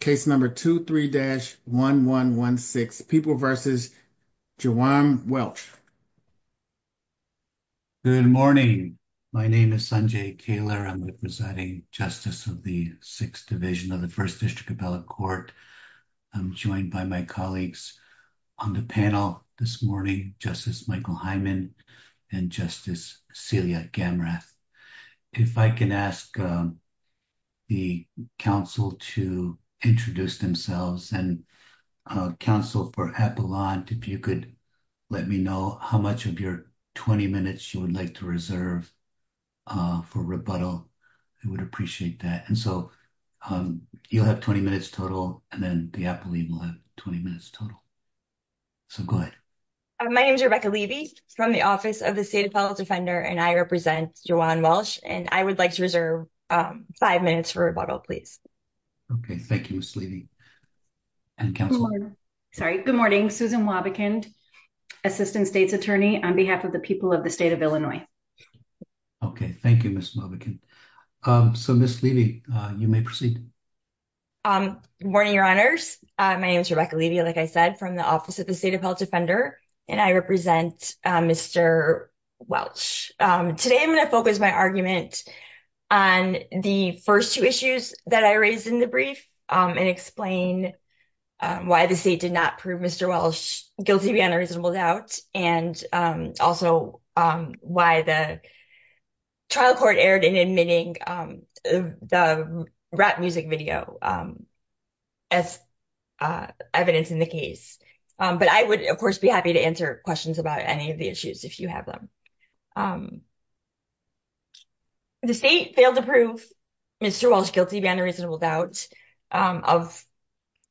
case number 23-1116. People v. Juwan Welch. Good morning. My name is Sanjay Kaler. I'm the Presiding Justice of the 6th Division of the First District Appellate Court. I'm joined by my colleagues on the panel this morning, Justice Michael Hyman and Justice Celia Gamrath. If I can ask the counsel to introduce themselves and counsel for Appellant, if you could let me know how much of your 20 minutes you would like to reserve for rebuttal. I would appreciate that. And so you'll have 20 minutes total and then the Appellant will have 20 minutes total. So go ahead. My name is Rebecca Levy from the Office of the State Appellate Defender and I represent Juwan Welch. And I would like to reserve five minutes for rebuttal, please. Okay. Thank you, Ms. Levy. Sorry. Good morning. Susan Wabichand, Assistant State's Attorney on behalf of the people of the State of Illinois. Okay. Thank you, Ms. Wabichand. So Ms. Levy, you may proceed. Good morning, Your Honors. My name is Rebecca Levy, like I said, from the Office of the State Appellate Defender, and I represent Mr. Welch. Today, I'm going to focus my argument on the first two issues that I raised in the brief and explain why the state did not prove Mr. Welch guilty beyond a reasonable doubt and also why the trial court erred in admitting the rap music video as evidence in the case. But I would, of course, be happy to answer questions about any of the issues if you have them. The state failed to prove Mr. Welch guilty beyond a reasonable doubt of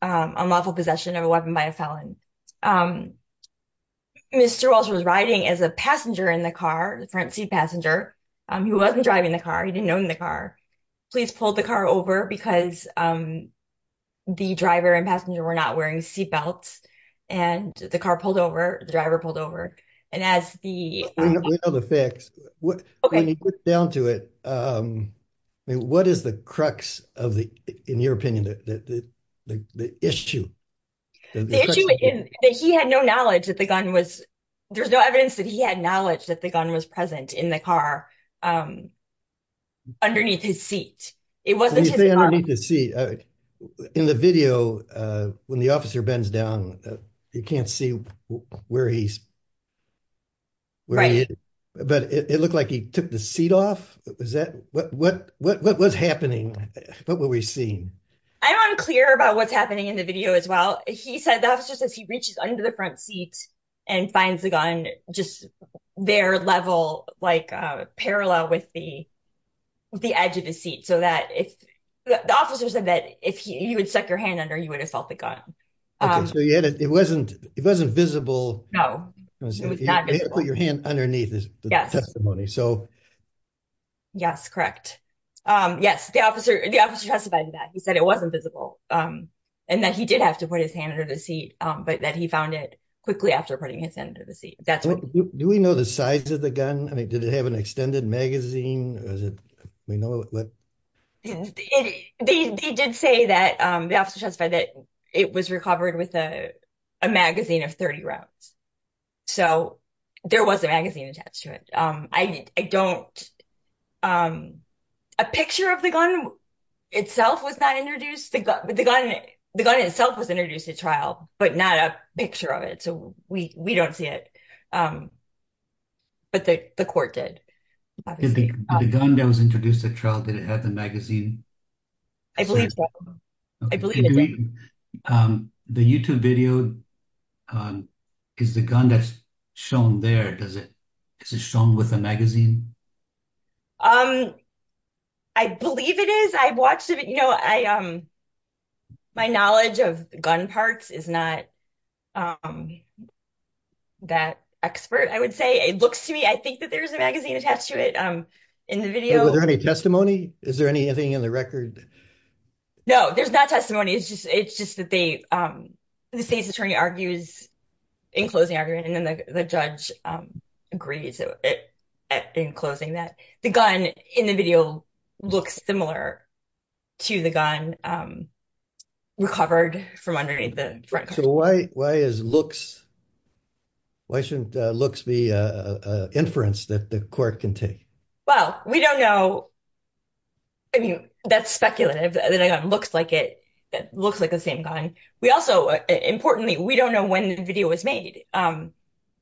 unlawful possession of a weapon by a felon. Mr. Welch was riding as a passenger in the car, the front seat passenger. He wasn't driving the car. He didn't own the car. Police pulled the car over because the driver and passenger were not wearing seat belts, and the car pulled over, the driver pulled over, and as the... We know the facts. When you get down to it, what is the crux of the, in your opinion, the issue? The issue is that he had no knowledge that the gun was, there's no evidence that he had the knowledge that the gun was present in the car underneath his seat. It wasn't... You say underneath his seat. In the video, when the officer bends down, you can't see where he's... But it looked like he took the seat off. What was happening? What were we seeing? I'm unclear about what's happening in the video as well. The officer says he reaches under the front seat and finds the gun just there level, parallel with the edge of the seat so that if... The officer said that if he would have stuck your hand under, you would have felt the gun. It wasn't visible. No, it was not visible. You had to put your hand underneath the testimony, so... Yes, correct. Yes, the officer testified to that. He said it wasn't visible, and that he did have to put his hand under the seat, but that he found it quickly after putting his hand under the seat. That's what... Do we know the size of the gun? I mean, did it have an extended magazine? They did say that, the officer testified that it was recovered with a magazine of 30 rounds. So there was a magazine attached to it. I don't... A picture of the gun itself was not introduced. The gun itself was introduced at trial, but not a picture of it. So we don't see it, but the court did. The gun that was introduced at trial, did it have the magazine? I believe so. I believe it did. The YouTube video, is the gun that's shown there, is it shown with a magazine? Um, I believe it is. I've watched it, you know, my knowledge of gun parts is not that expert, I would say. It looks to me, I think that there's a magazine attached to it in the video. Was there any testimony? Is there anything in the record? No, there's not testimony. It's just that the state's attorney argues, in closing argument, and then the judge agrees in closing that the gun in the video looks similar to the gun recovered from underneath the front cover. So why is looks, why shouldn't looks be an inference that the court can take? Well, we don't know. I mean, that's speculative. The gun looks like the same gun. We also, importantly, we don't know when the video was made.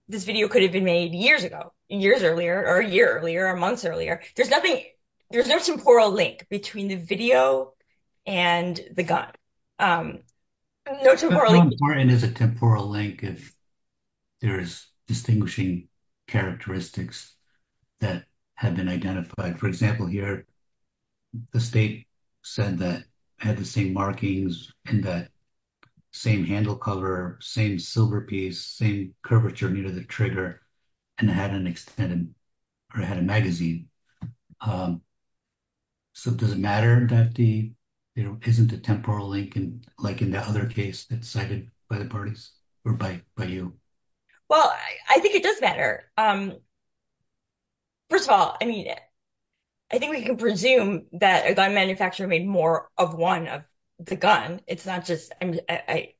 This video could have been made years ago, years earlier, or a year earlier, or months earlier. There's nothing, there's no temporal link between the video and the gun. No temporal link. But how important is a temporal link if there is distinguishing characteristics that have been identified? For example, here, the state said that it had the same markings in the same handle cover, same silver piece, same curvature near the trigger, and it had an extended, or it had a magazine. So does it matter that the, you know, isn't a temporal link, like in the other case that's cited by the parties, or by you? Well, I think it does matter. First of all, I mean, I think we can presume that a gun it's not just, I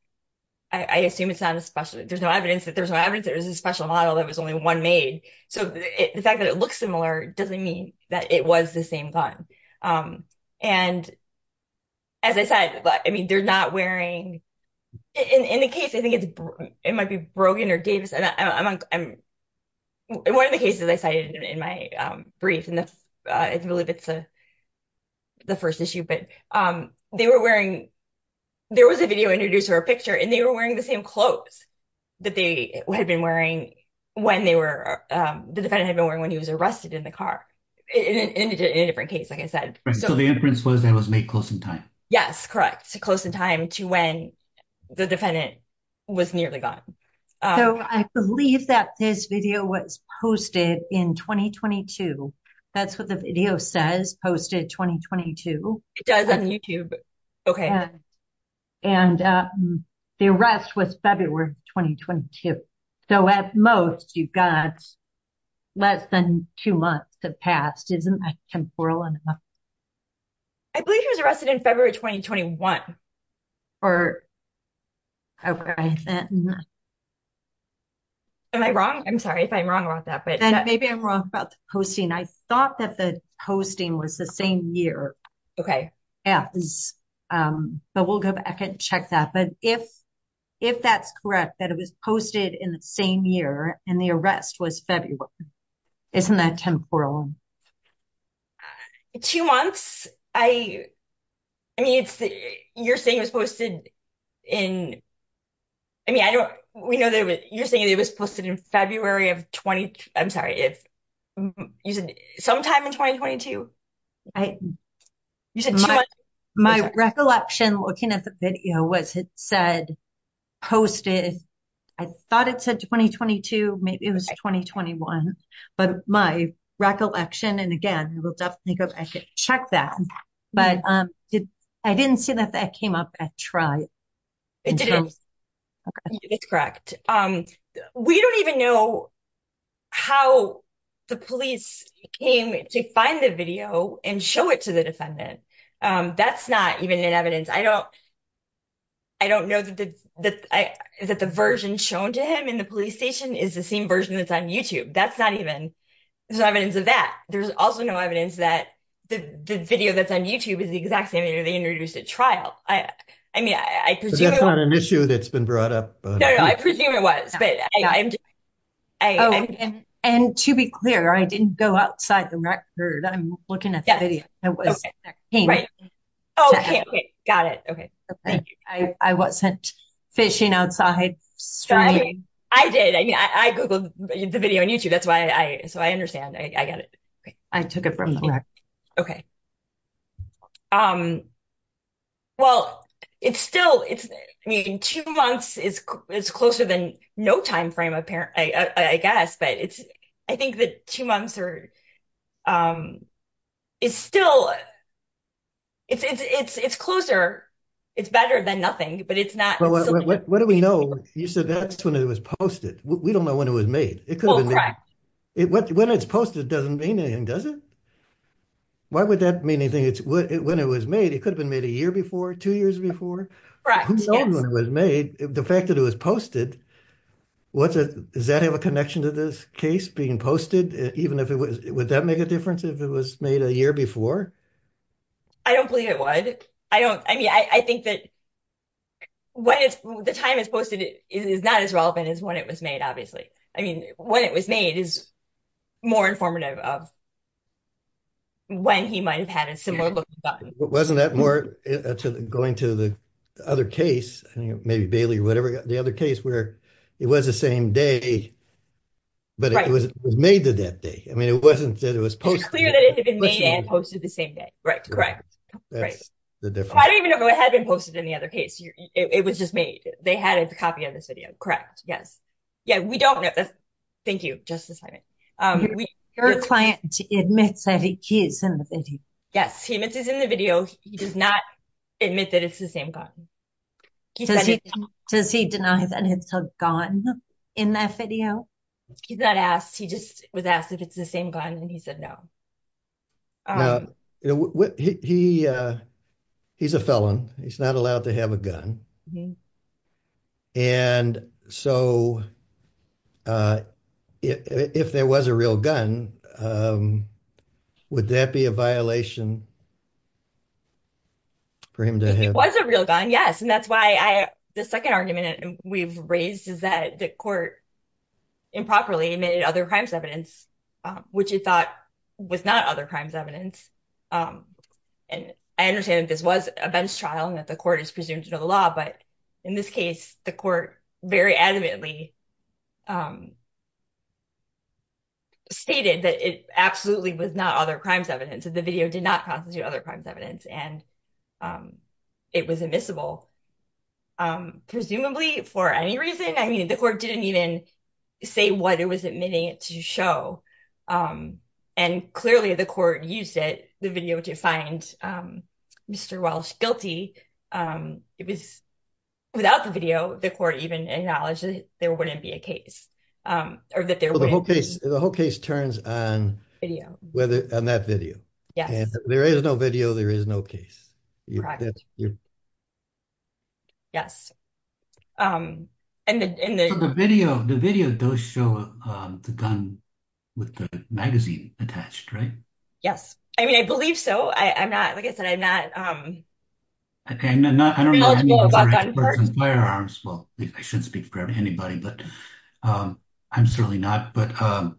assume it's not a special, there's no evidence that there's no evidence there was a special model that was only one made. So the fact that it looks similar doesn't mean that it was the same gun. And as I said, I mean, they're not wearing, in the case, I think it's, it might be Brogan or Davis. One of the cases I cited in my brief, and I believe it's the first issue, but they were wearing, there was a video introduced or a picture, and they were wearing the same clothes that they had been wearing when they were, the defendant had been wearing when he was arrested in the car, in a different case, like I said. So the inference was that it was made close in time. Yes, correct. So close in time to when the defendant was nearly gone. So I believe that this video was posted in 2022. That's what the video says, posted 2022. It does on YouTube. Okay. And the arrest was February 2022. So at most, you've got less than two months to pass. Isn't that temporal enough? I believe he was arrested in February 2021. Or, okay. Am I wrong? I'm sorry if I'm wrong about that. Maybe I'm wrong about the posting. I thought that the posting was the same year. Okay. Yeah. But we'll go back and check that. But if that's correct, that it was posted in the same year and the arrest was February. Isn't that temporal? Two months. I mean, it's, you're saying it was posted in, I mean, we know that you're saying it was posted in February of 2022. I'm sorry. Sometime in 2022? My recollection looking at the video was it said, posted, I thought it said 2022. Maybe it was 2021. But my recollection, and again, we'll definitely go back and check that. But I didn't see that that came up at trial. It didn't. It's correct. We don't even know how the police came to find the video and show it to the defendant. That's not even an evidence. I don't know that the version shown to him in the police station is the same version that's that's not even, there's no evidence of that. There's also no evidence that the video that's on YouTube is the exact same year they introduced at trial. I mean, I presume that's not an issue that's been brought up. I presume it was, but I, and to be clear, I didn't go outside the record. I'm looking at the video. I wasn't fishing outside. I did. I mean, I Googled the video on YouTube. That's why I, so I understand. I got it. I took it from the record. Okay. Well, it's still, it's, I mean, two months is, it's closer than no timeframe, apparent, I guess, but it's, I think that two months are, is still, it's, it's, it's, it's closer. It's better than nothing, but it's not. What do we know? You said that's when it was posted. We don't know when it was made. It could have been made. When it's posted, it doesn't mean anything, does it? Why would that mean anything? It's when it was made, it could have been made a year before, two years before. Who knows when it was made? The fact that it was posted, what's a, does that have a connection to this case being posted? Even if it was, would that make a difference if it was made a year before? I don't believe it would. I don't, I mean, I think that when it's, the time it's posted is not as relevant as when it was made, obviously. I mean, when it was made is more informative of when he might've had a similar look. Wasn't that more going to the other case, maybe Bailey or whatever, the other case where it was the same day, but it was made that day. I mean, it wasn't that it was posted. It's clear that it had been made and posted the same day. Right. Correct. That's the difference. I don't even know if it had been posted in the other case. It was just made. They had a copy of this video. Correct. Yes. Yeah. We don't know. Thank you, Justice Hyman. Your client admits that he's in the video. Yes. He admits he's in the video. He does not admit that it's the same gun. Does he deny that it's a gun in that video? He's not asked. He just was asked if it's the same gun and he said, no. No. He's a felon. He's not allowed to have a gun. And so if there was a real gun, would that be a violation for him to have? If it was a real gun, yes. And that's why the second argument we've raised is that the court improperly admitted other crimes evidence, which it thought was not other crimes evidence. And I understand that this was a bench trial and that the court is presumed to know the law. But in this case, the court very adamantly stated that it absolutely was not other crimes evidence. The video did not constitute other crimes evidence and it was admissible. Presumably, for any reason, I mean, the court didn't even say what it was admitting it to show. And clearly the court used it, the video, to find Mr. Welsh guilty. Without the video, the court even acknowledged that there wouldn't be a case. The whole case turns on that video. There is no video, there is no case. Yes. Yes. And the video, the video does show the gun with the magazine attached, right? Yes. I mean, I believe so. I'm not, like I said, I'm not knowledgeable about firearms. Well, I shouldn't speak for anybody, but I'm certainly not. But I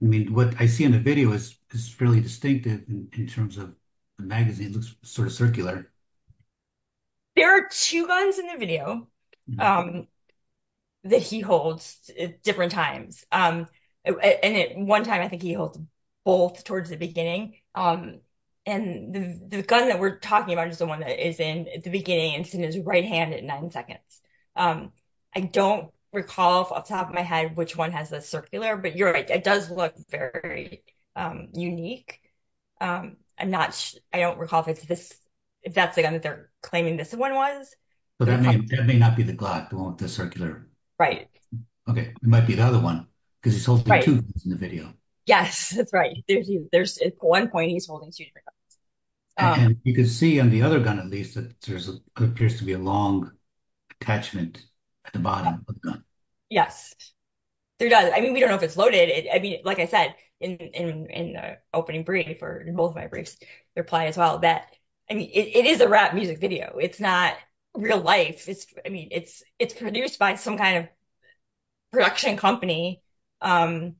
mean, what I see in the video is fairly distinctive in terms of the magazine looks sort of circular. There are two guns in the video that he holds at different times. And at one time, I think he holds both towards the beginning. And the gun that we're talking about is the one that is in the beginning and is in his right hand at nine seconds. I don't recall off the top of my head which one has the circular, but you're right. It does look very unique. I'm not, I don't recall if it's this, if that's the gun that they're claiming this one was. So that may not be the Glock, the one with the circular. Right. Okay. It might be the other one, because he's holding two guns in the video. Yes, that's right. There's, at one point he's holding two different guns. You can see on the other gun, at least, that there appears to be a long attachment at the bottom of the gun. Yes, there does. I mean, we don't know if it's loaded. I mean, like I said, in the opening brief, or in both my briefs, the reply as well, that, I mean, it is a rap music video. It's not real life. It's, I mean, it's produced by some kind of production company. And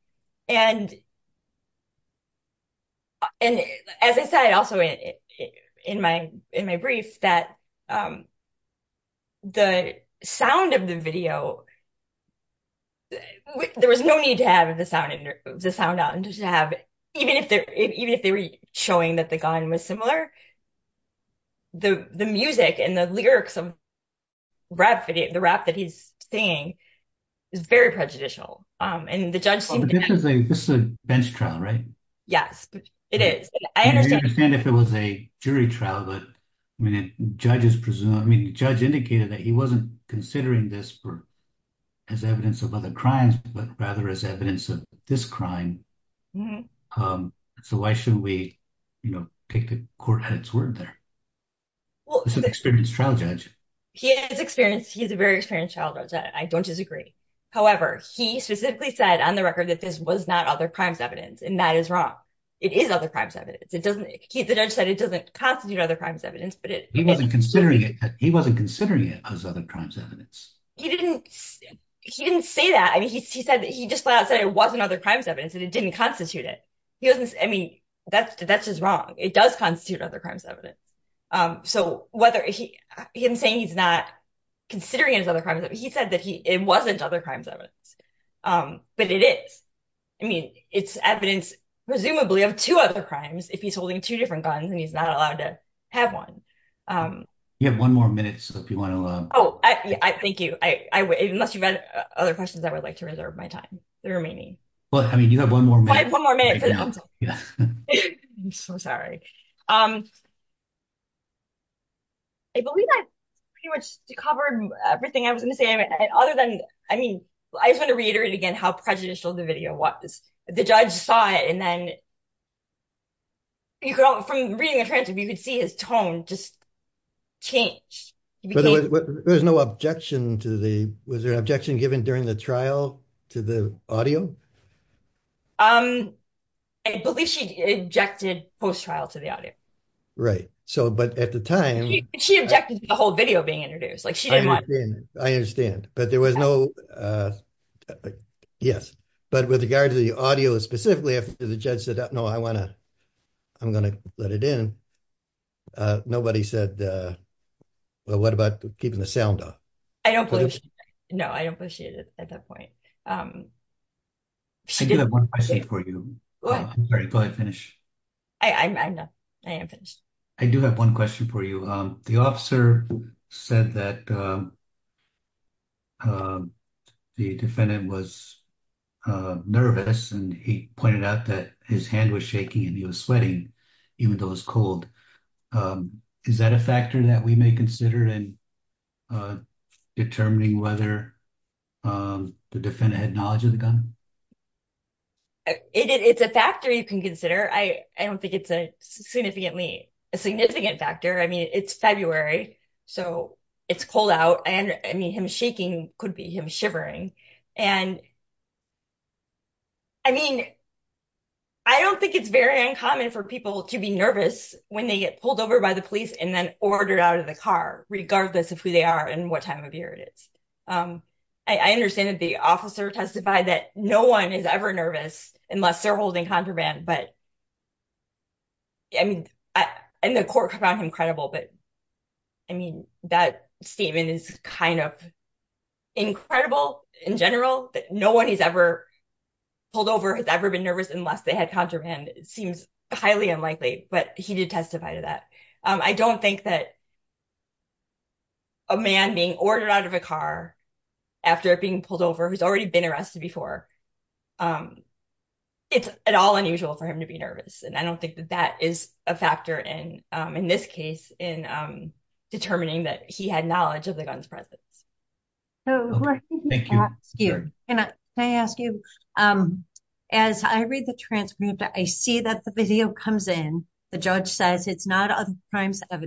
as I said also in my brief, that the sound of the video, there was no need to have the sound on, just to have, even if they were showing that the gun was similar, the music and the lyrics of the rap that he's singing is very prejudicial. This is a bench trial, right? Yes, it is. I understand if it was a jury trial, but I mean, the judge indicated that he wasn't considering this as evidence of other crimes, but rather as evidence of this crime. So why shouldn't we, you know, take the court at its word there? He's an experienced trial judge. He is experienced. He's a very experienced trial judge. I don't disagree. However, he specifically said on the record that this was not other crimes evidence. And that is wrong. It is other crimes evidence. It doesn't, the judge said it doesn't constitute other crimes evidence, but it he wasn't considering it. He wasn't considering it as other crimes evidence. He didn't, he didn't say that. I mean, he said that he just said it wasn't other crimes evidence and it didn't constitute it. He doesn't, I mean, that's, that's just wrong. It does constitute other crimes evidence. So whether he, him saying he's not considering it as other crimes, he said that he, it wasn't other crimes evidence. But it is, I mean, it's evidence presumably of two other crimes, if he's holding two different guns and he's not allowed to have one. You have one more minute, so if you want to. Oh, I, I, thank you. I, I, unless you've had other questions, I would like to reserve my time. The remaining. Well, I mean, you have one more minute. One more minute. I'm so sorry. I believe I pretty much covered everything I was going to say. Other than, I mean, I just want to reiterate again, how prejudicial the video was. The judge saw it and then you could, from reading the transcript, you could see his tone just changed. There was no objection to the, was there an objection given during the trial to the audio? I believe she objected post-trial to the audio. Right. So, but at the time. She objected to the whole video being introduced. Like she didn't want. I understand, but there was no. Yes, but with regard to the audio, specifically after the judge said, no, I want to. I'm going to let it in. Nobody said, well, what about keeping the sound off? I don't believe. No, I don't believe she did at that point. She did have one question for you. What? I'm sorry, before I finish. I'm not, I am finished. I do have one question for you. The officer said that. The defendant was nervous and he pointed out that his hand was shaking and he was sweating, even though it was cold. Is that a factor that we may consider in. Determining whether the defendant had knowledge of the gun. It's a factor you can consider. I don't think it's a significant factor. I mean, it's February, so it's cold out and I mean, him shaking could be him shivering and. I mean, I don't think it's very uncommon for people to be nervous when they get pulled over by the police and then ordered out of the car, regardless of who they are and what time of year it is. I understand that the officer testified that no one is ever nervous unless they're holding contraband, but. Yeah, I mean, I, and the court found him credible, but I mean, that statement is kind of. Incredible in general that no one has ever. Pulled over has ever been nervous unless they had contraband. It seems highly unlikely, but he did testify to that. I don't think that. A man being ordered out of a car after being pulled over who's already been arrested before. Um. It's at all unusual for him to be nervous, and I don't think that that is a factor in in this case in determining that he had knowledge of the gun's presence. So, thank you and I ask you. As I read the transcript, I see that the video comes in. The judge says it's not other crimes of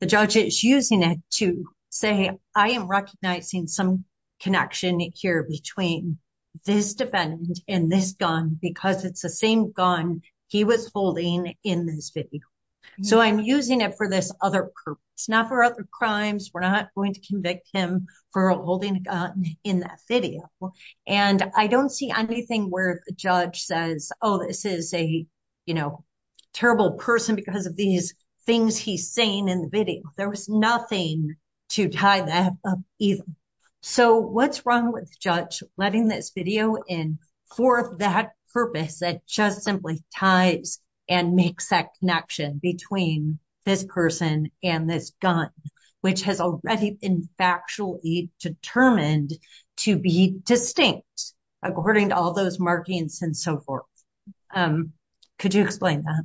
the judge is using it to say I am recognizing some connection here between this defendant and this gun because it's the same gun. He was holding in this video, so I'm using it for this other purpose, not for other crimes. We're not going to convict him for holding a gun in that video, and I don't see anything where the judge says, oh, this is a, you know, terrible person because of these things he's saying in the video. There was nothing to tie that up either. So, what's wrong with judge letting this video in for that purpose that just simply ties and makes that connection between this person and this gun, which has already been factually determined to be distinct, according to all those markings and so forth? Could you explain that?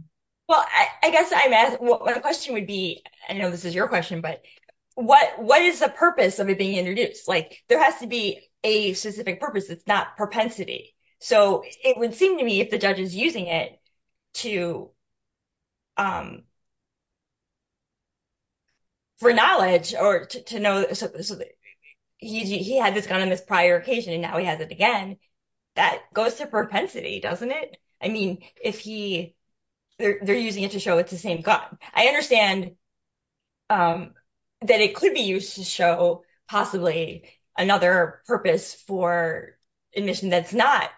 Well, I guess I'm asking, the question would be, I know this is your question, but what is the purpose of it being introduced? There has to be a specific purpose. It's not propensity. So, it would seem to me if the judge is using it to, for knowledge or to know, he had this gun on this prior occasion and now he has it again, that goes to propensity, doesn't it? I mean, if he, they're using it to show it's the same gun. I understand that it could be used to show possibly another purpose for admission that's not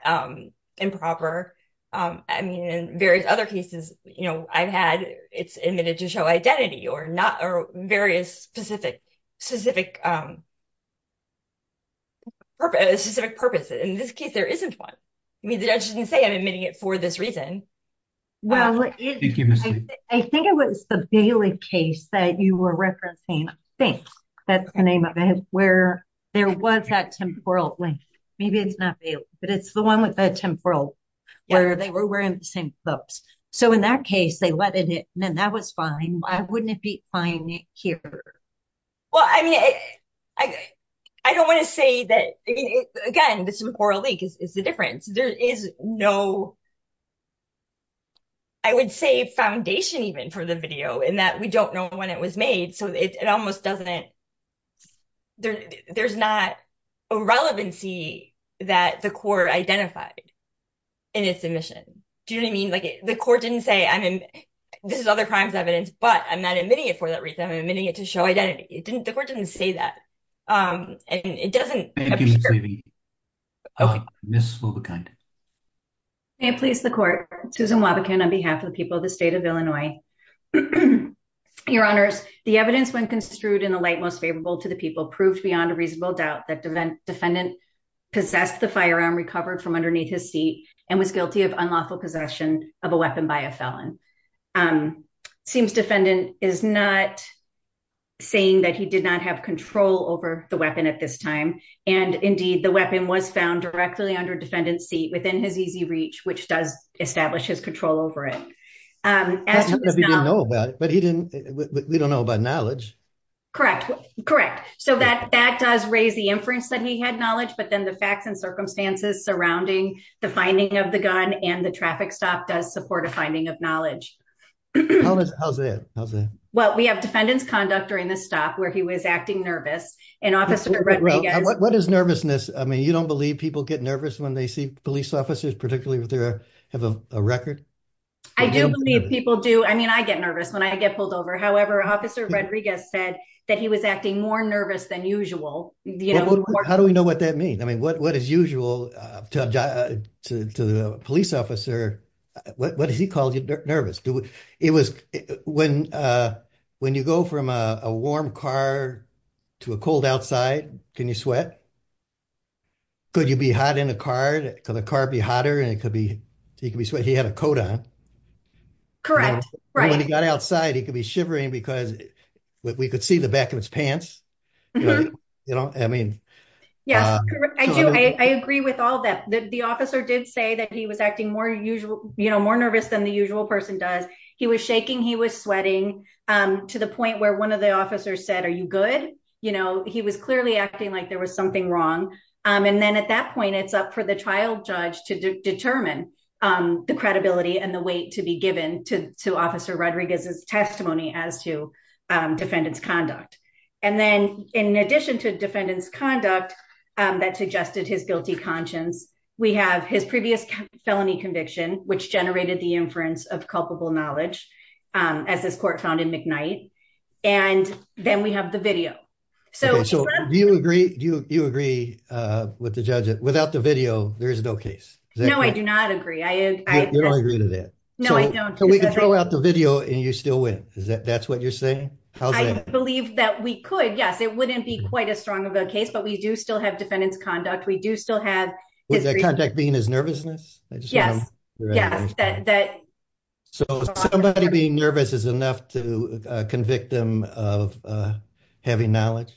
improper. I mean, in various other cases, you know, I've had it's admitted to show identity or not, or various specific, specific purpose, specific purpose. In this case, there isn't one. I mean, the judge didn't say I'm admitting it for this reason. Well, I think it was the Bailey case that you were referencing, I think that's the name of it, where there was that temporal link. Maybe it's not Bailey, but it's the one with the temporal, where they were wearing the same clothes. So, in that case, they let it in and that was fine. Why wouldn't it be fine here? Well, I mean, I don't want to say that, again, this temporal link is the difference. There is no I would say foundation even for the video in that we don't know when it was made. So, it almost doesn't, there's not a relevancy that the court identified in its admission. Do you know what I mean? Like, the court didn't say, I mean, this is other crimes evidence, but I'm not admitting it for that reason. I'm admitting it to show identity. It didn't, the court didn't say that. And it doesn't. Thank you Ms. Levy. Ms. Lobekind. May it please the court. Susan Lobekind on behalf of the people of the state of Illinois. Your honors, the evidence when construed in a light most favorable to the people proved beyond a reasonable doubt that defendant possessed the firearm recovered from underneath his seat and was guilty of unlawful possession of a weapon by a felon. Seems defendant is not saying that he did not have control over the weapon at this time. And indeed, the weapon was found directly under defendant's seat within his easy reach, which does establish his control over it. As he didn't know about it, but he didn't, we don't know about knowledge. Correct. Correct. So that, that does raise the inference that he had knowledge, but then the facts and circumstances surrounding the finding of the gun and the traffic stop does support a finding of knowledge. How's that? How's that? Well, we have defendant's conduct during the where he was acting nervous and officer Rodriguez. What is nervousness? I mean, you don't believe people get nervous when they see police officers, particularly with their, have a record. I do believe people do. I mean, I get nervous when I get pulled over. However, officer Rodriguez said that he was acting more nervous than usual. How do we know what that means? I mean, what, what is usual to the police officer? What does he call you? Nervous? It was when, uh, when you go from a warm car to a cold outside, can you sweat? Could you be hot in a car? Could the car be hotter? And it could be, he could be sweating. He had a coat on. Correct. Right. When he got outside, he could be shivering because we could see the back of his pants. You know, I mean, yes, I do. I agree with all that. The officer did say that he was acting more usual, you know, more nervous than the usual person does. He was shaking. He was sweating. Um, to the point where one of the officers said, are you good? You know, he was clearly acting like there was something wrong. Um, and then at that point, it's up for the trial judge to determine, um, the credibility and the weight to be given to, to officer Rodriguez's testimony as to, um, defendant's conduct. And then in addition to defendant's conduct, um, that suggested his guilty conscience, we have his previous felony conviction, which generated the inference of culpable knowledge, um, as this court found in McKnight. And then we have the video. So do you agree? Do you, you agree, uh, with the judge without the video? There is no case. No, I do not agree. I agree to that. So we can throw out the video and you still win. Is that, that's what you're saying? I believe that we could, yes, it wouldn't be quite as strong of a case, but we do still defendants conduct. We do still have contact being as nervousness. Yes. Yes. That, that, so somebody being nervous is enough to convict them of, uh, having knowledge.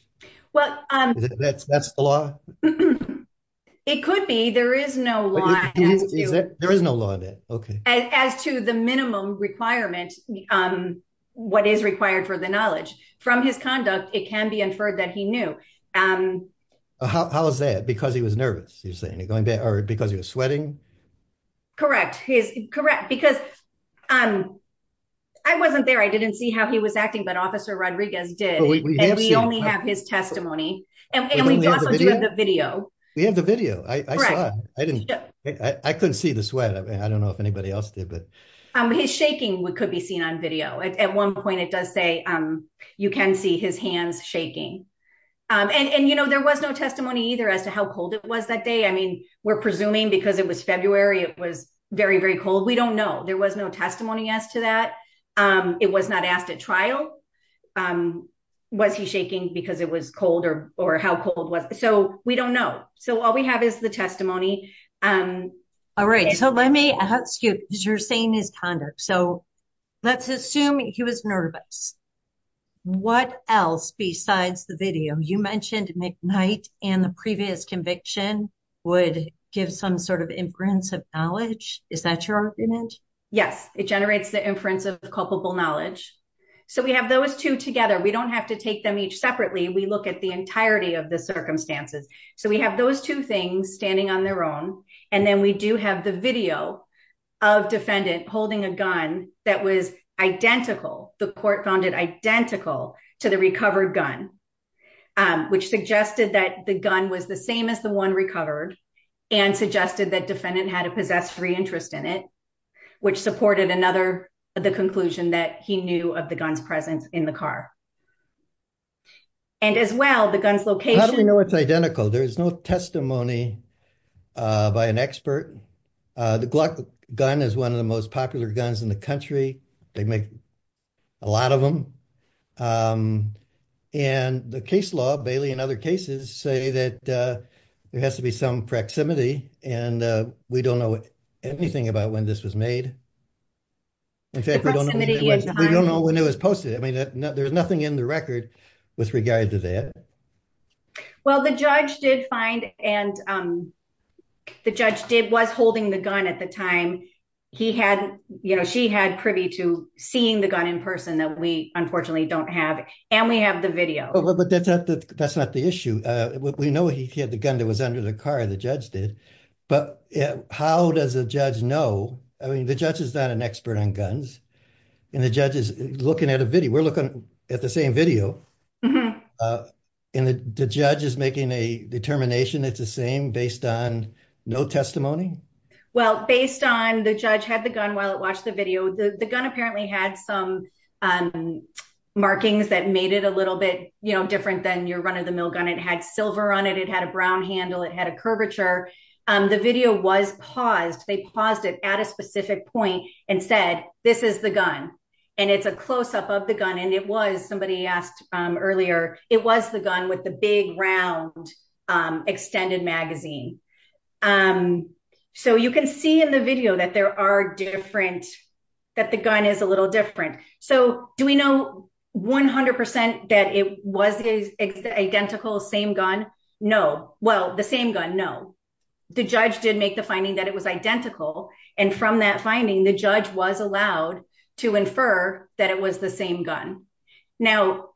Well, um, that's, that's the law. It could be, there is no law. There is no law that, okay. As to the minimum requirement, um, what is required for the knowledge from his conduct, it can be inferred that he knew, um, how, how is that? Because he was nervous, you're saying it going back or because he was sweating. Correct. He's correct because, um, I wasn't there. I didn't see how he was acting, but officer Rodriguez did, and we only have his testimony and we also do have the video. We have the video. I, I saw, I didn't, I couldn't see the sweat. I mean, I don't know if anybody else did, but, um, he's shaking. We could be seen on video. At one point it does say, um, you can see his hands shaking. Um, and, and, you know, there was no testimony either as to how cold it was that day. I mean, we're presuming because it was February, it was very, very cold. We don't know. There was no testimony as to that. Um, it was not asked at trial. Um, was he shaking because it was colder or how cold was it? So we don't know. So all we have is the testimony. Um, all right. So let me ask you, cause you're saying his conduct. So let's assume he was nervous. What else besides the video you mentioned McKnight and the previous conviction would give some sort of inference of knowledge. Is that your argument? Yes, it generates the inference of culpable knowledge. So we have those two together. We don't have to take them each separately. We look at the entirety of the circumstances. So we have those two things standing on their own. And then we do have the video of defendant holding a gun that was identical. The court found it identical to the recovered gun, um, which suggested that the gun was the same as the one recovered and suggested that defendant had a possessed free interest in it, which supported another, the conclusion that he knew of the gun's presence in the car and as well, the gun's location. How do we know it's identical? There is no testimony by an expert. Uh, the Glock gun is one of the most popular guns in the country. They make a lot of them. Um, and the case law Bailey and other cases say that, uh, there has to be some proximity and, uh, we don't know anything about when this was made. In fact, we don't know when it was posted. I mean, there's nothing in the record with regard to that. Well, the judge did find, and, um, the judge did was holding the gun at the time he had, you know, she had privy to seeing the gun in person that we unfortunately don't have. And we have the video. But that's not the, that's not the issue. Uh, we know he had the gun that was under the car, the judge did, but how does the judge know? I mean, the judge is not an expert on guns and the judge is looking at a video. We're looking at the same video. Uh, and the judge is making a determination. It's the same based on no testimony. Well, based on the judge had the gun while it watched the video, the gun apparently had some, um, markings that made it a little bit different than your run of the mill gun. It had silver on it. It had a Brown handle. It had a curvature. Um, the video was paused. They paused it at a specific point and said, this is the gun. And it's a closeup of the gun. And it was, somebody asked earlier, it was the gun with the big round, um, extended magazine. Um, so you can see in the video that there are different, that the gun is a little different. So do we know 100% that it was the identical same gun? No. Well, the same gun. No, the judge did make the finding that it was identical. And from that finding, the judge was allowed to infer that it was the same gun. Now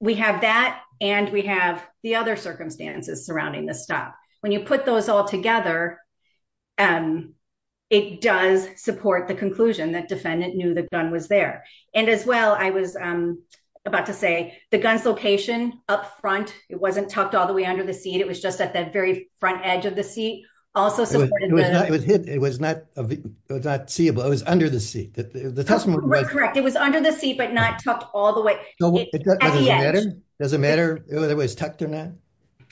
we have that and we have the other circumstances surrounding this stuff. When you put those all together, um, it does support the conclusion that defendant knew the gun was there. And as well, I was, um, about to say the guns location up front, it wasn't tucked all the way under the seat. It was just at very front edge of the seat also supported. It was not, it was not, it was not seeable. It was under the seat that the testimony was correct. It was under the seat, but not tucked all the way. Does it matter whether it was tucked or not?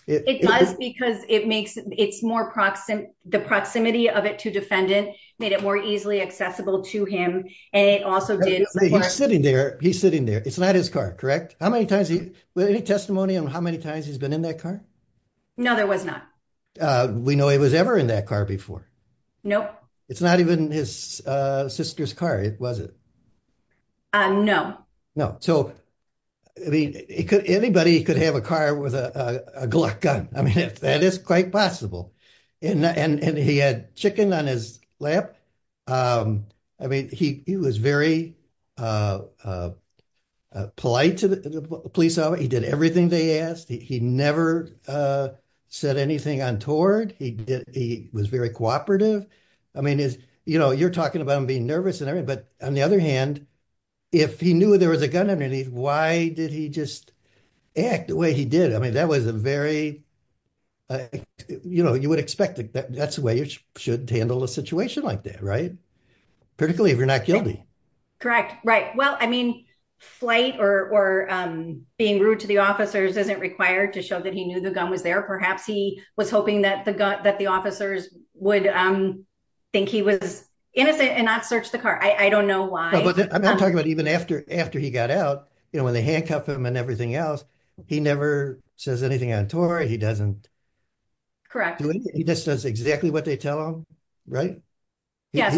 It does because it makes it's more proximate, the proximity of it to defendant made it more easily accessible to him. And it also did sitting there. He's sitting there. It's not his car. Correct. How many times he, any testimony on how many times he's been in that car? No, there was not. Uh, we know he was ever in that car before. Nope. It's not even his, uh, sister's car. It wasn't. Uh, no, no. So I mean, it could, anybody could have a car with a, uh, a Glock gun. I mean, if that is quite possible and, and, and he had chicken on his lap. Um, I mean, he, he was very, uh, uh, uh, polite to the police. He did everything they asked. He never, uh, said anything untoward. He did. He was very cooperative. I mean, is, you know, you're talking about him being nervous and everything, but on the other hand, if he knew there was a gun underneath, why did he just act the way he did? I mean, that was a very, uh, you know, you would expect that that's the way you should handle a situation like that. Right. Particularly if you're not guilty. Correct. Right. Well, I mean, flight or, um, being rude to the officers isn't required to show that he knew the gun was there. Perhaps he was hoping that the gut, that the officers would, um, think he was innocent and not search the car. I don't know why. I'm talking about even after, after he got out, you know, when they handcuff him and everything else, he never says anything untoward. He doesn't correct. He just does exactly what they tell him. Right. Yes.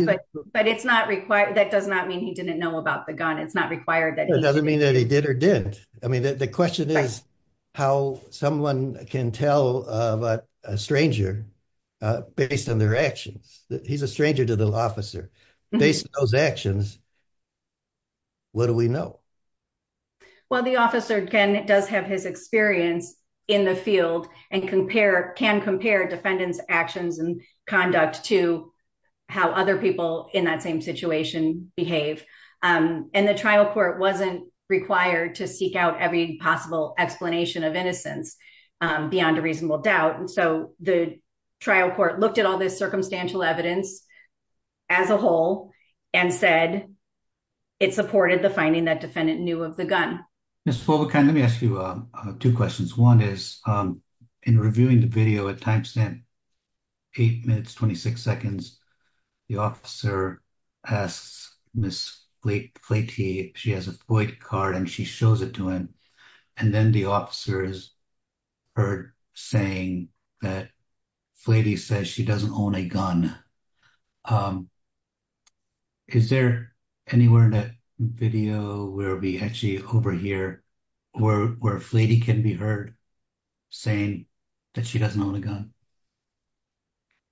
But it's not required. That does not mean he didn't know about the gun. It's not required. That doesn't mean that he did or didn't. I mean, the question is how someone can tell a stranger, uh, based on their actions that he's a stranger to the officer based on those actions. What do we know? Well, the officer can, does have his experience in the field and compare, can compare defendants actions and conduct to how other people in that situation behave. Um, and the trial court wasn't required to seek out every possible explanation of innocence, um, beyond a reasonable doubt. And so the trial court looked at all this circumstantial evidence as a whole and said, it supported the finding that defendant knew of the gun. Let me ask you two questions. One is, um, in reviewing the video at timestamp eight minutes, 26 seconds, the officer asks Ms. Flatey, she has a void card and she shows it to him. And then the officers heard saying that Flatey says she doesn't own a gun. Um, is there anywhere in that video where we actually overhear where, where Flatey can be heard saying that she doesn't own a gun?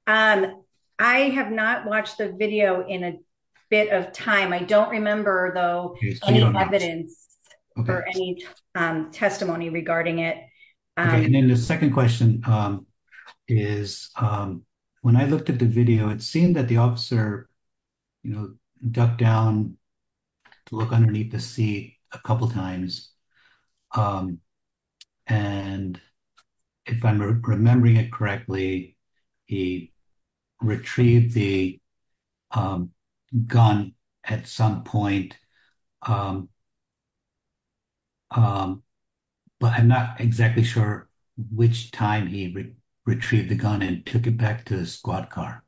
Um, I have not watched the video in a bit of time. I don't remember though any evidence or any, um, testimony regarding it. Okay. And then the second question, um, is, um, when I looked at the video, it seemed that the officer, you know, ducked down to look underneath the seat a couple of times. Um, and if I'm remembering it correctly, he retrieved the, um, gun at some point, um, um, but I'm not exactly sure which time he retrieved the gun and took it back to the squad car.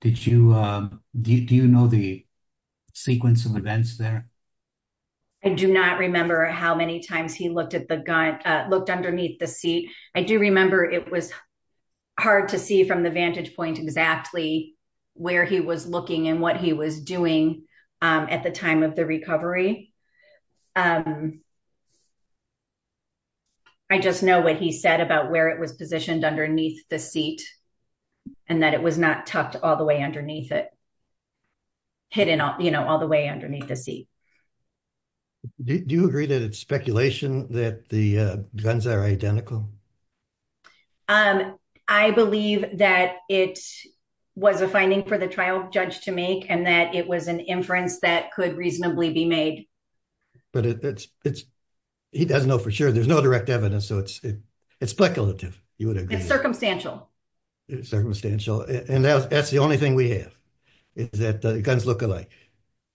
Did you, um, do you know the sequence of events there? I do not remember how many times he looked at the gun, uh, looked underneath the seat. I do remember it was hard to see from the vantage point exactly where he was looking and what he was doing, um, at the time of the recovery. Um, I just know what he said about where it was positioned underneath the seat and that it was not tucked all the way underneath it, hidden, you know, all the way underneath the seat. Do you agree that it's speculation that the guns are identical? Um, I believe that it was a finding for the trial judge to make and that it was an inference that could reasonably be made. But it's, it's, he doesn't know for sure. There's no direct evidence. So it's, it's speculative. You would agree. It's circumstantial. It's circumstantial. And that's, that's the only thing we have is that the guns look alike,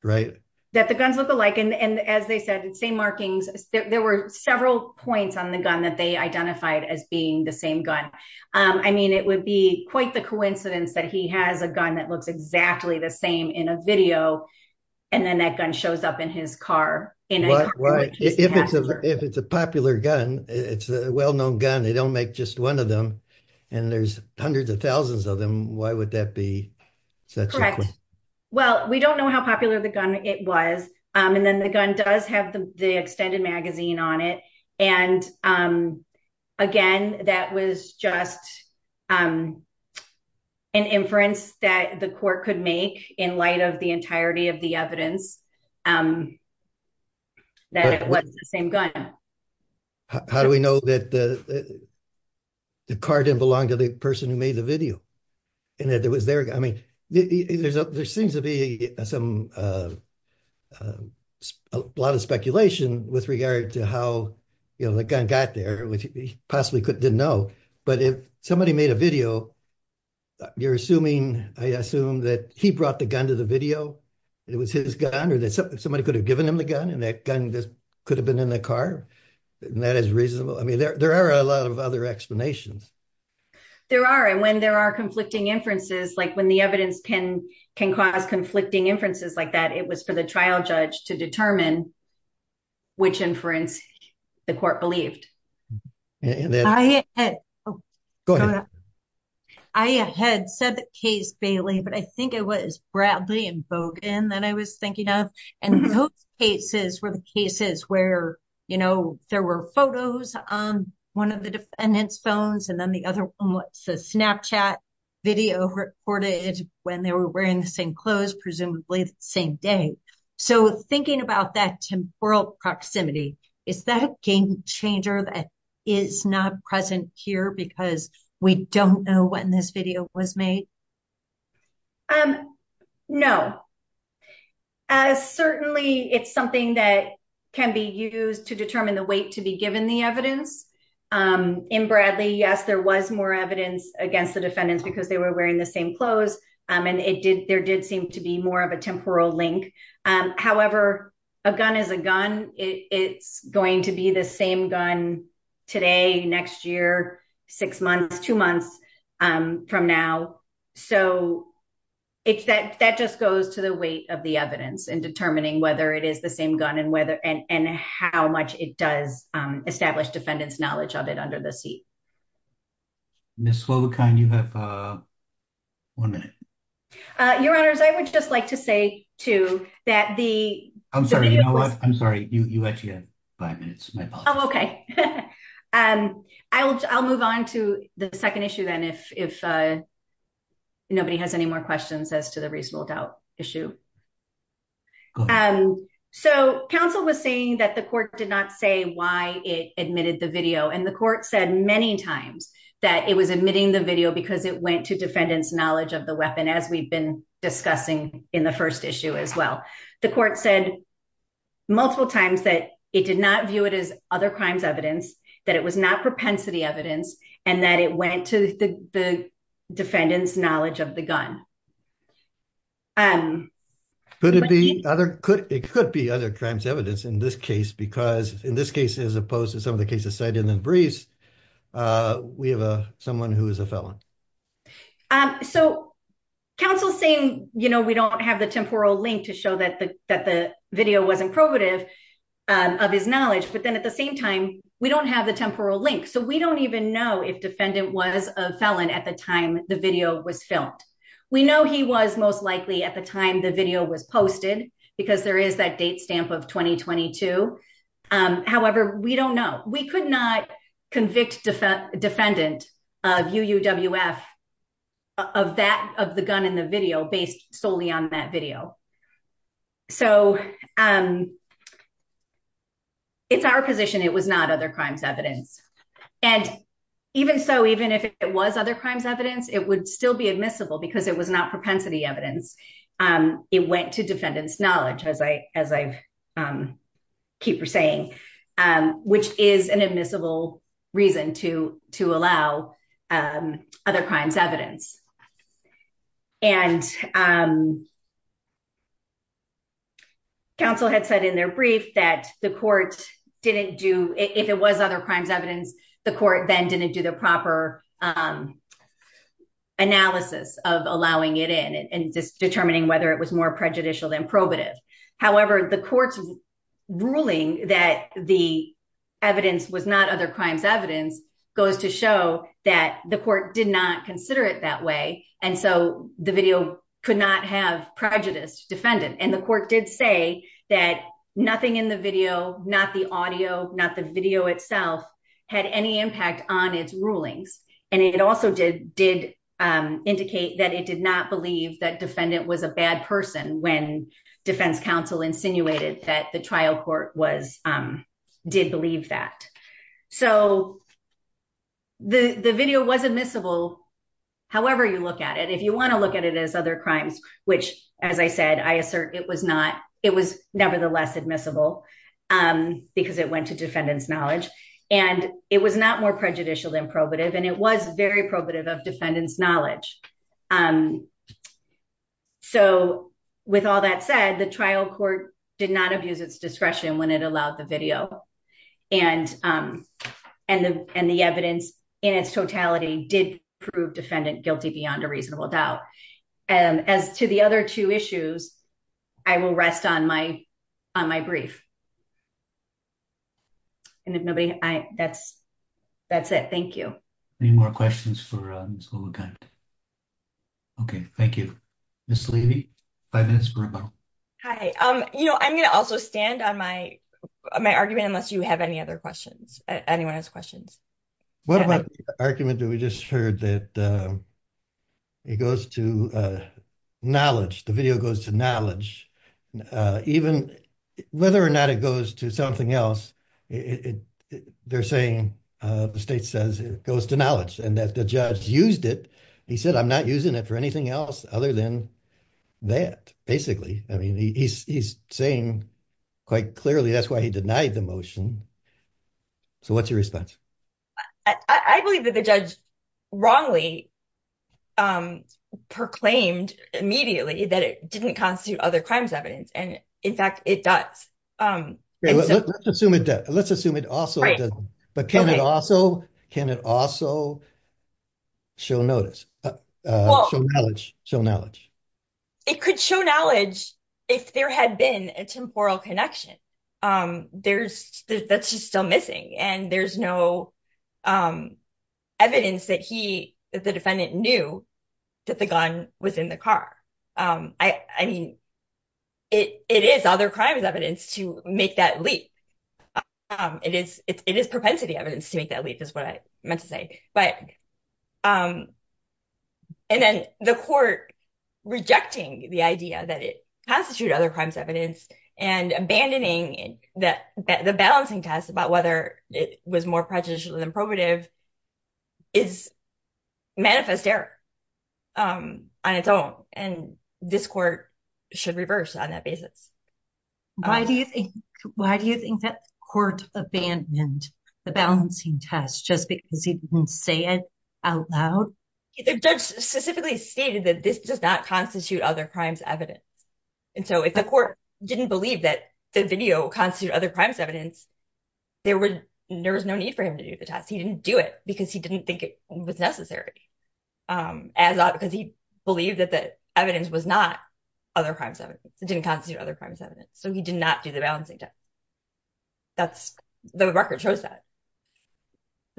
right? That the guns look alike. And, and as they said, it's same markings. There were several points on the gun that they identified as being the same gun. Um, I mean, it would be quite the coincidence that he has a gun that looks exactly the same in a video. And then that gun shows up in his car. Right. If it's a, if it's a popular gun, it's a well-known gun. They don't make just one of them and there's hundreds of thousands of them. Why would that be? Well, we don't know how popular the gun it was. Um, and then the gun does have the extended magazine on it. And, um, again, that was just, um, an inference that the court could make in light of the entirety of the evidence, um, that it was the same gun. How do we know that the car didn't belong to the person who made the video and that there was there? I mean, there's a, there seems to be some, uh, a lot of speculation with regard to how the gun got there, which he possibly could, didn't know. But if somebody made video, you're assuming, I assume that he brought the gun to the video and it was his gun or that somebody could have given him the gun and that gun could have been in the car. And that is reasonable. I mean, there, there are a lot of other explanations. There are. And when there are conflicting inferences, like when the evidence can, can cause conflicting inferences like that, it was for the trial judge to determine which inference the court believed. I had said the case Bailey, but I think it was Bradley and Bogan that I was thinking of. And those cases were the cases where, you know, there were photos on one of the defendant's phones. And then the other one was a Snapchat video recorded when they were wearing the same clothes, presumably the same day. So thinking about that temporal proximity, is that game changer that is not present here because we don't know when this video was made? Um, no, as certainly it's something that can be used to determine the weight to be given the evidence. Um, in Bradley, yes, there was more evidence against the defendants because they were wearing the same clothes. Um, and it did, there did seem to be more of a temporal link. Um, however, a gun is a gun. It's going to be the same gun today, next year, six months, two months, um, from now. So it's that, that just goes to the weight of the evidence and determining whether it is the same gun and whether, and, and how much it does, um, establish defendant's knowledge of it under the seat. Ms. Slovakine, you have, uh, one minute. Uh, your honors, I would just like to say too, that the, I'm sorry, I'm sorry. You, you actually have five minutes. Um, I will, I'll move on to the second issue then if, if, uh, nobody has any more questions as to the reasonable doubt issue. Um, so counsel was saying that the court did not say why it admitted the video and the court said many times that it was admitting the video because it went to defendant's knowledge of the weapon as we've been discussing in the first issue as well. The court said multiple times that it did not view it as other crimes evidence, that it was not propensity evidence, and that it went to the defendant's knowledge of the gun. Um, could it be other, could, it could be other crimes evidence in this case because in this case, as opposed to some of the cases cited in the briefs, uh, we have a, who is a felon. Um, so counsel saying, you know, we don't have the temporal link to show that the, that the video wasn't probative, um, of his knowledge, but then at the same time, we don't have the temporal link. So we don't even know if defendant was a felon at the time the video was filmed. We know he was most likely at the time the video was posted because there is that date stamp of 2022. Um, however, we don't know. We could not convict defendant of UUWF of that, of the gun in the video based solely on that video. So, um, it's our position. It was not other crimes evidence. And even so, even if it was other crimes evidence, it would still be admissible because it was not propensity evidence. Um, it went to defendant's knowledge as I, as I've, um, keep saying, um, which is an admissible reason to, to allow, um, other crimes evidence. And, um, counsel had said in their brief that the court didn't do, if it was other crimes evidence, the court then didn't do the proper, um, analysis of allowing it in and determining whether it was more prejudicial than probative. However, the court's ruling that the evidence was not other evidence goes to show that the court did not consider it that way. And so the video could not have prejudice defendant. And the court did say that nothing in the video, not the audio, not the video itself had any impact on its rulings. And it also did, did, um, indicate that it did not believe that defendant was a bad person when defense counsel insinuated that the court was, um, did believe that. So the, the video was admissible. However, you look at it, if you want to look at it as other crimes, which as I said, I assert it was not, it was nevertheless admissible, um, because it went to defendant's knowledge and it was not more prejudicial than probative. And it was very probative of defendant's knowledge. Um, so with all that said, the trial court did not abuse its discretion when it allowed the video and, um, and the, and the evidence in its totality did prove defendant guilty beyond a reasonable doubt. And as to the other two issues, I will rest on my, on my brief. And if nobody, I, that's, that's it. Thank you. Any more questions for, um, Okay. Thank you, Ms. Levy. Five minutes for rebuttal. Hi. Um, you know, I'm going to also stand on my, my argument, unless you have any other questions, anyone has questions. What about the argument that we just heard that, um, it goes to, uh, knowledge, the video goes to knowledge, uh, even whether or not it goes to something else, it, it, they're saying, uh, state says it goes to knowledge and that the judge used it. He said, I'm not using it for anything else other than that, basically. I mean, he's, he's saying quite clearly, that's why he denied the motion. So what's your response? I believe that the judge wrongly, um, proclaimed immediately that it didn't constitute other crimes evidence. And in fact, it does. Um, let's assume it does. Let's assume it also, but can it also, can it also show notice, uh, uh, show knowledge. It could show knowledge if there had been a temporal connection. Um, there's that's just still missing and there's no, um, evidence that he, that the defendant knew that the gun was in the car. Um, I, I mean, it, it is other crimes evidence to make that leap. Um, it is, it's, it is propensity evidence to make that leap is what I meant to say, but, um, and then the court rejecting the idea that it has to shoot other crimes evidence and abandoning that the balancing test about whether it was more prejudicial than probative is manifest error, um, on its own. And this court should reverse on that basis. Why do you think, why do you think that court abandoned the balancing test just because he didn't say it out loud? The judge specifically stated that this does not constitute other crimes evidence. And so if the court didn't believe that the video constitute other crimes evidence, there would, there was no need for him to do the test. He didn't do it because he didn't think it was necessary, um, as, because he believed that the evidence was not other crimes evidence. It didn't constitute other crimes evidence. So he did not do the balancing test. That's the record shows that.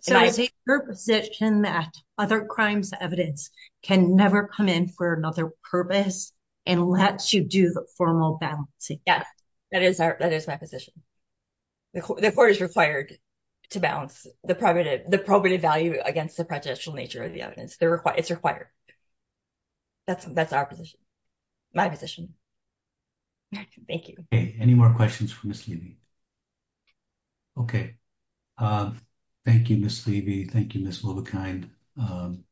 So I take your position that other crimes evidence can never come in for another purpose and let you do the formal balancing. Yes, that is our, that is my position. The court is required to balance the probative, the probative value against the prejudicial nature of the evidence. They're required. It's required. That's, that's our position, my position. Thank you. Okay. Any more questions for Ms. Levy? Okay. Um, thank you, Ms. Levy. Thank you, Ms. Wolbekind. Um,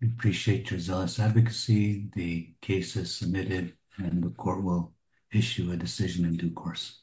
we appreciate your zealous advocacy. The case is submitted and the court will issue a decision in due course.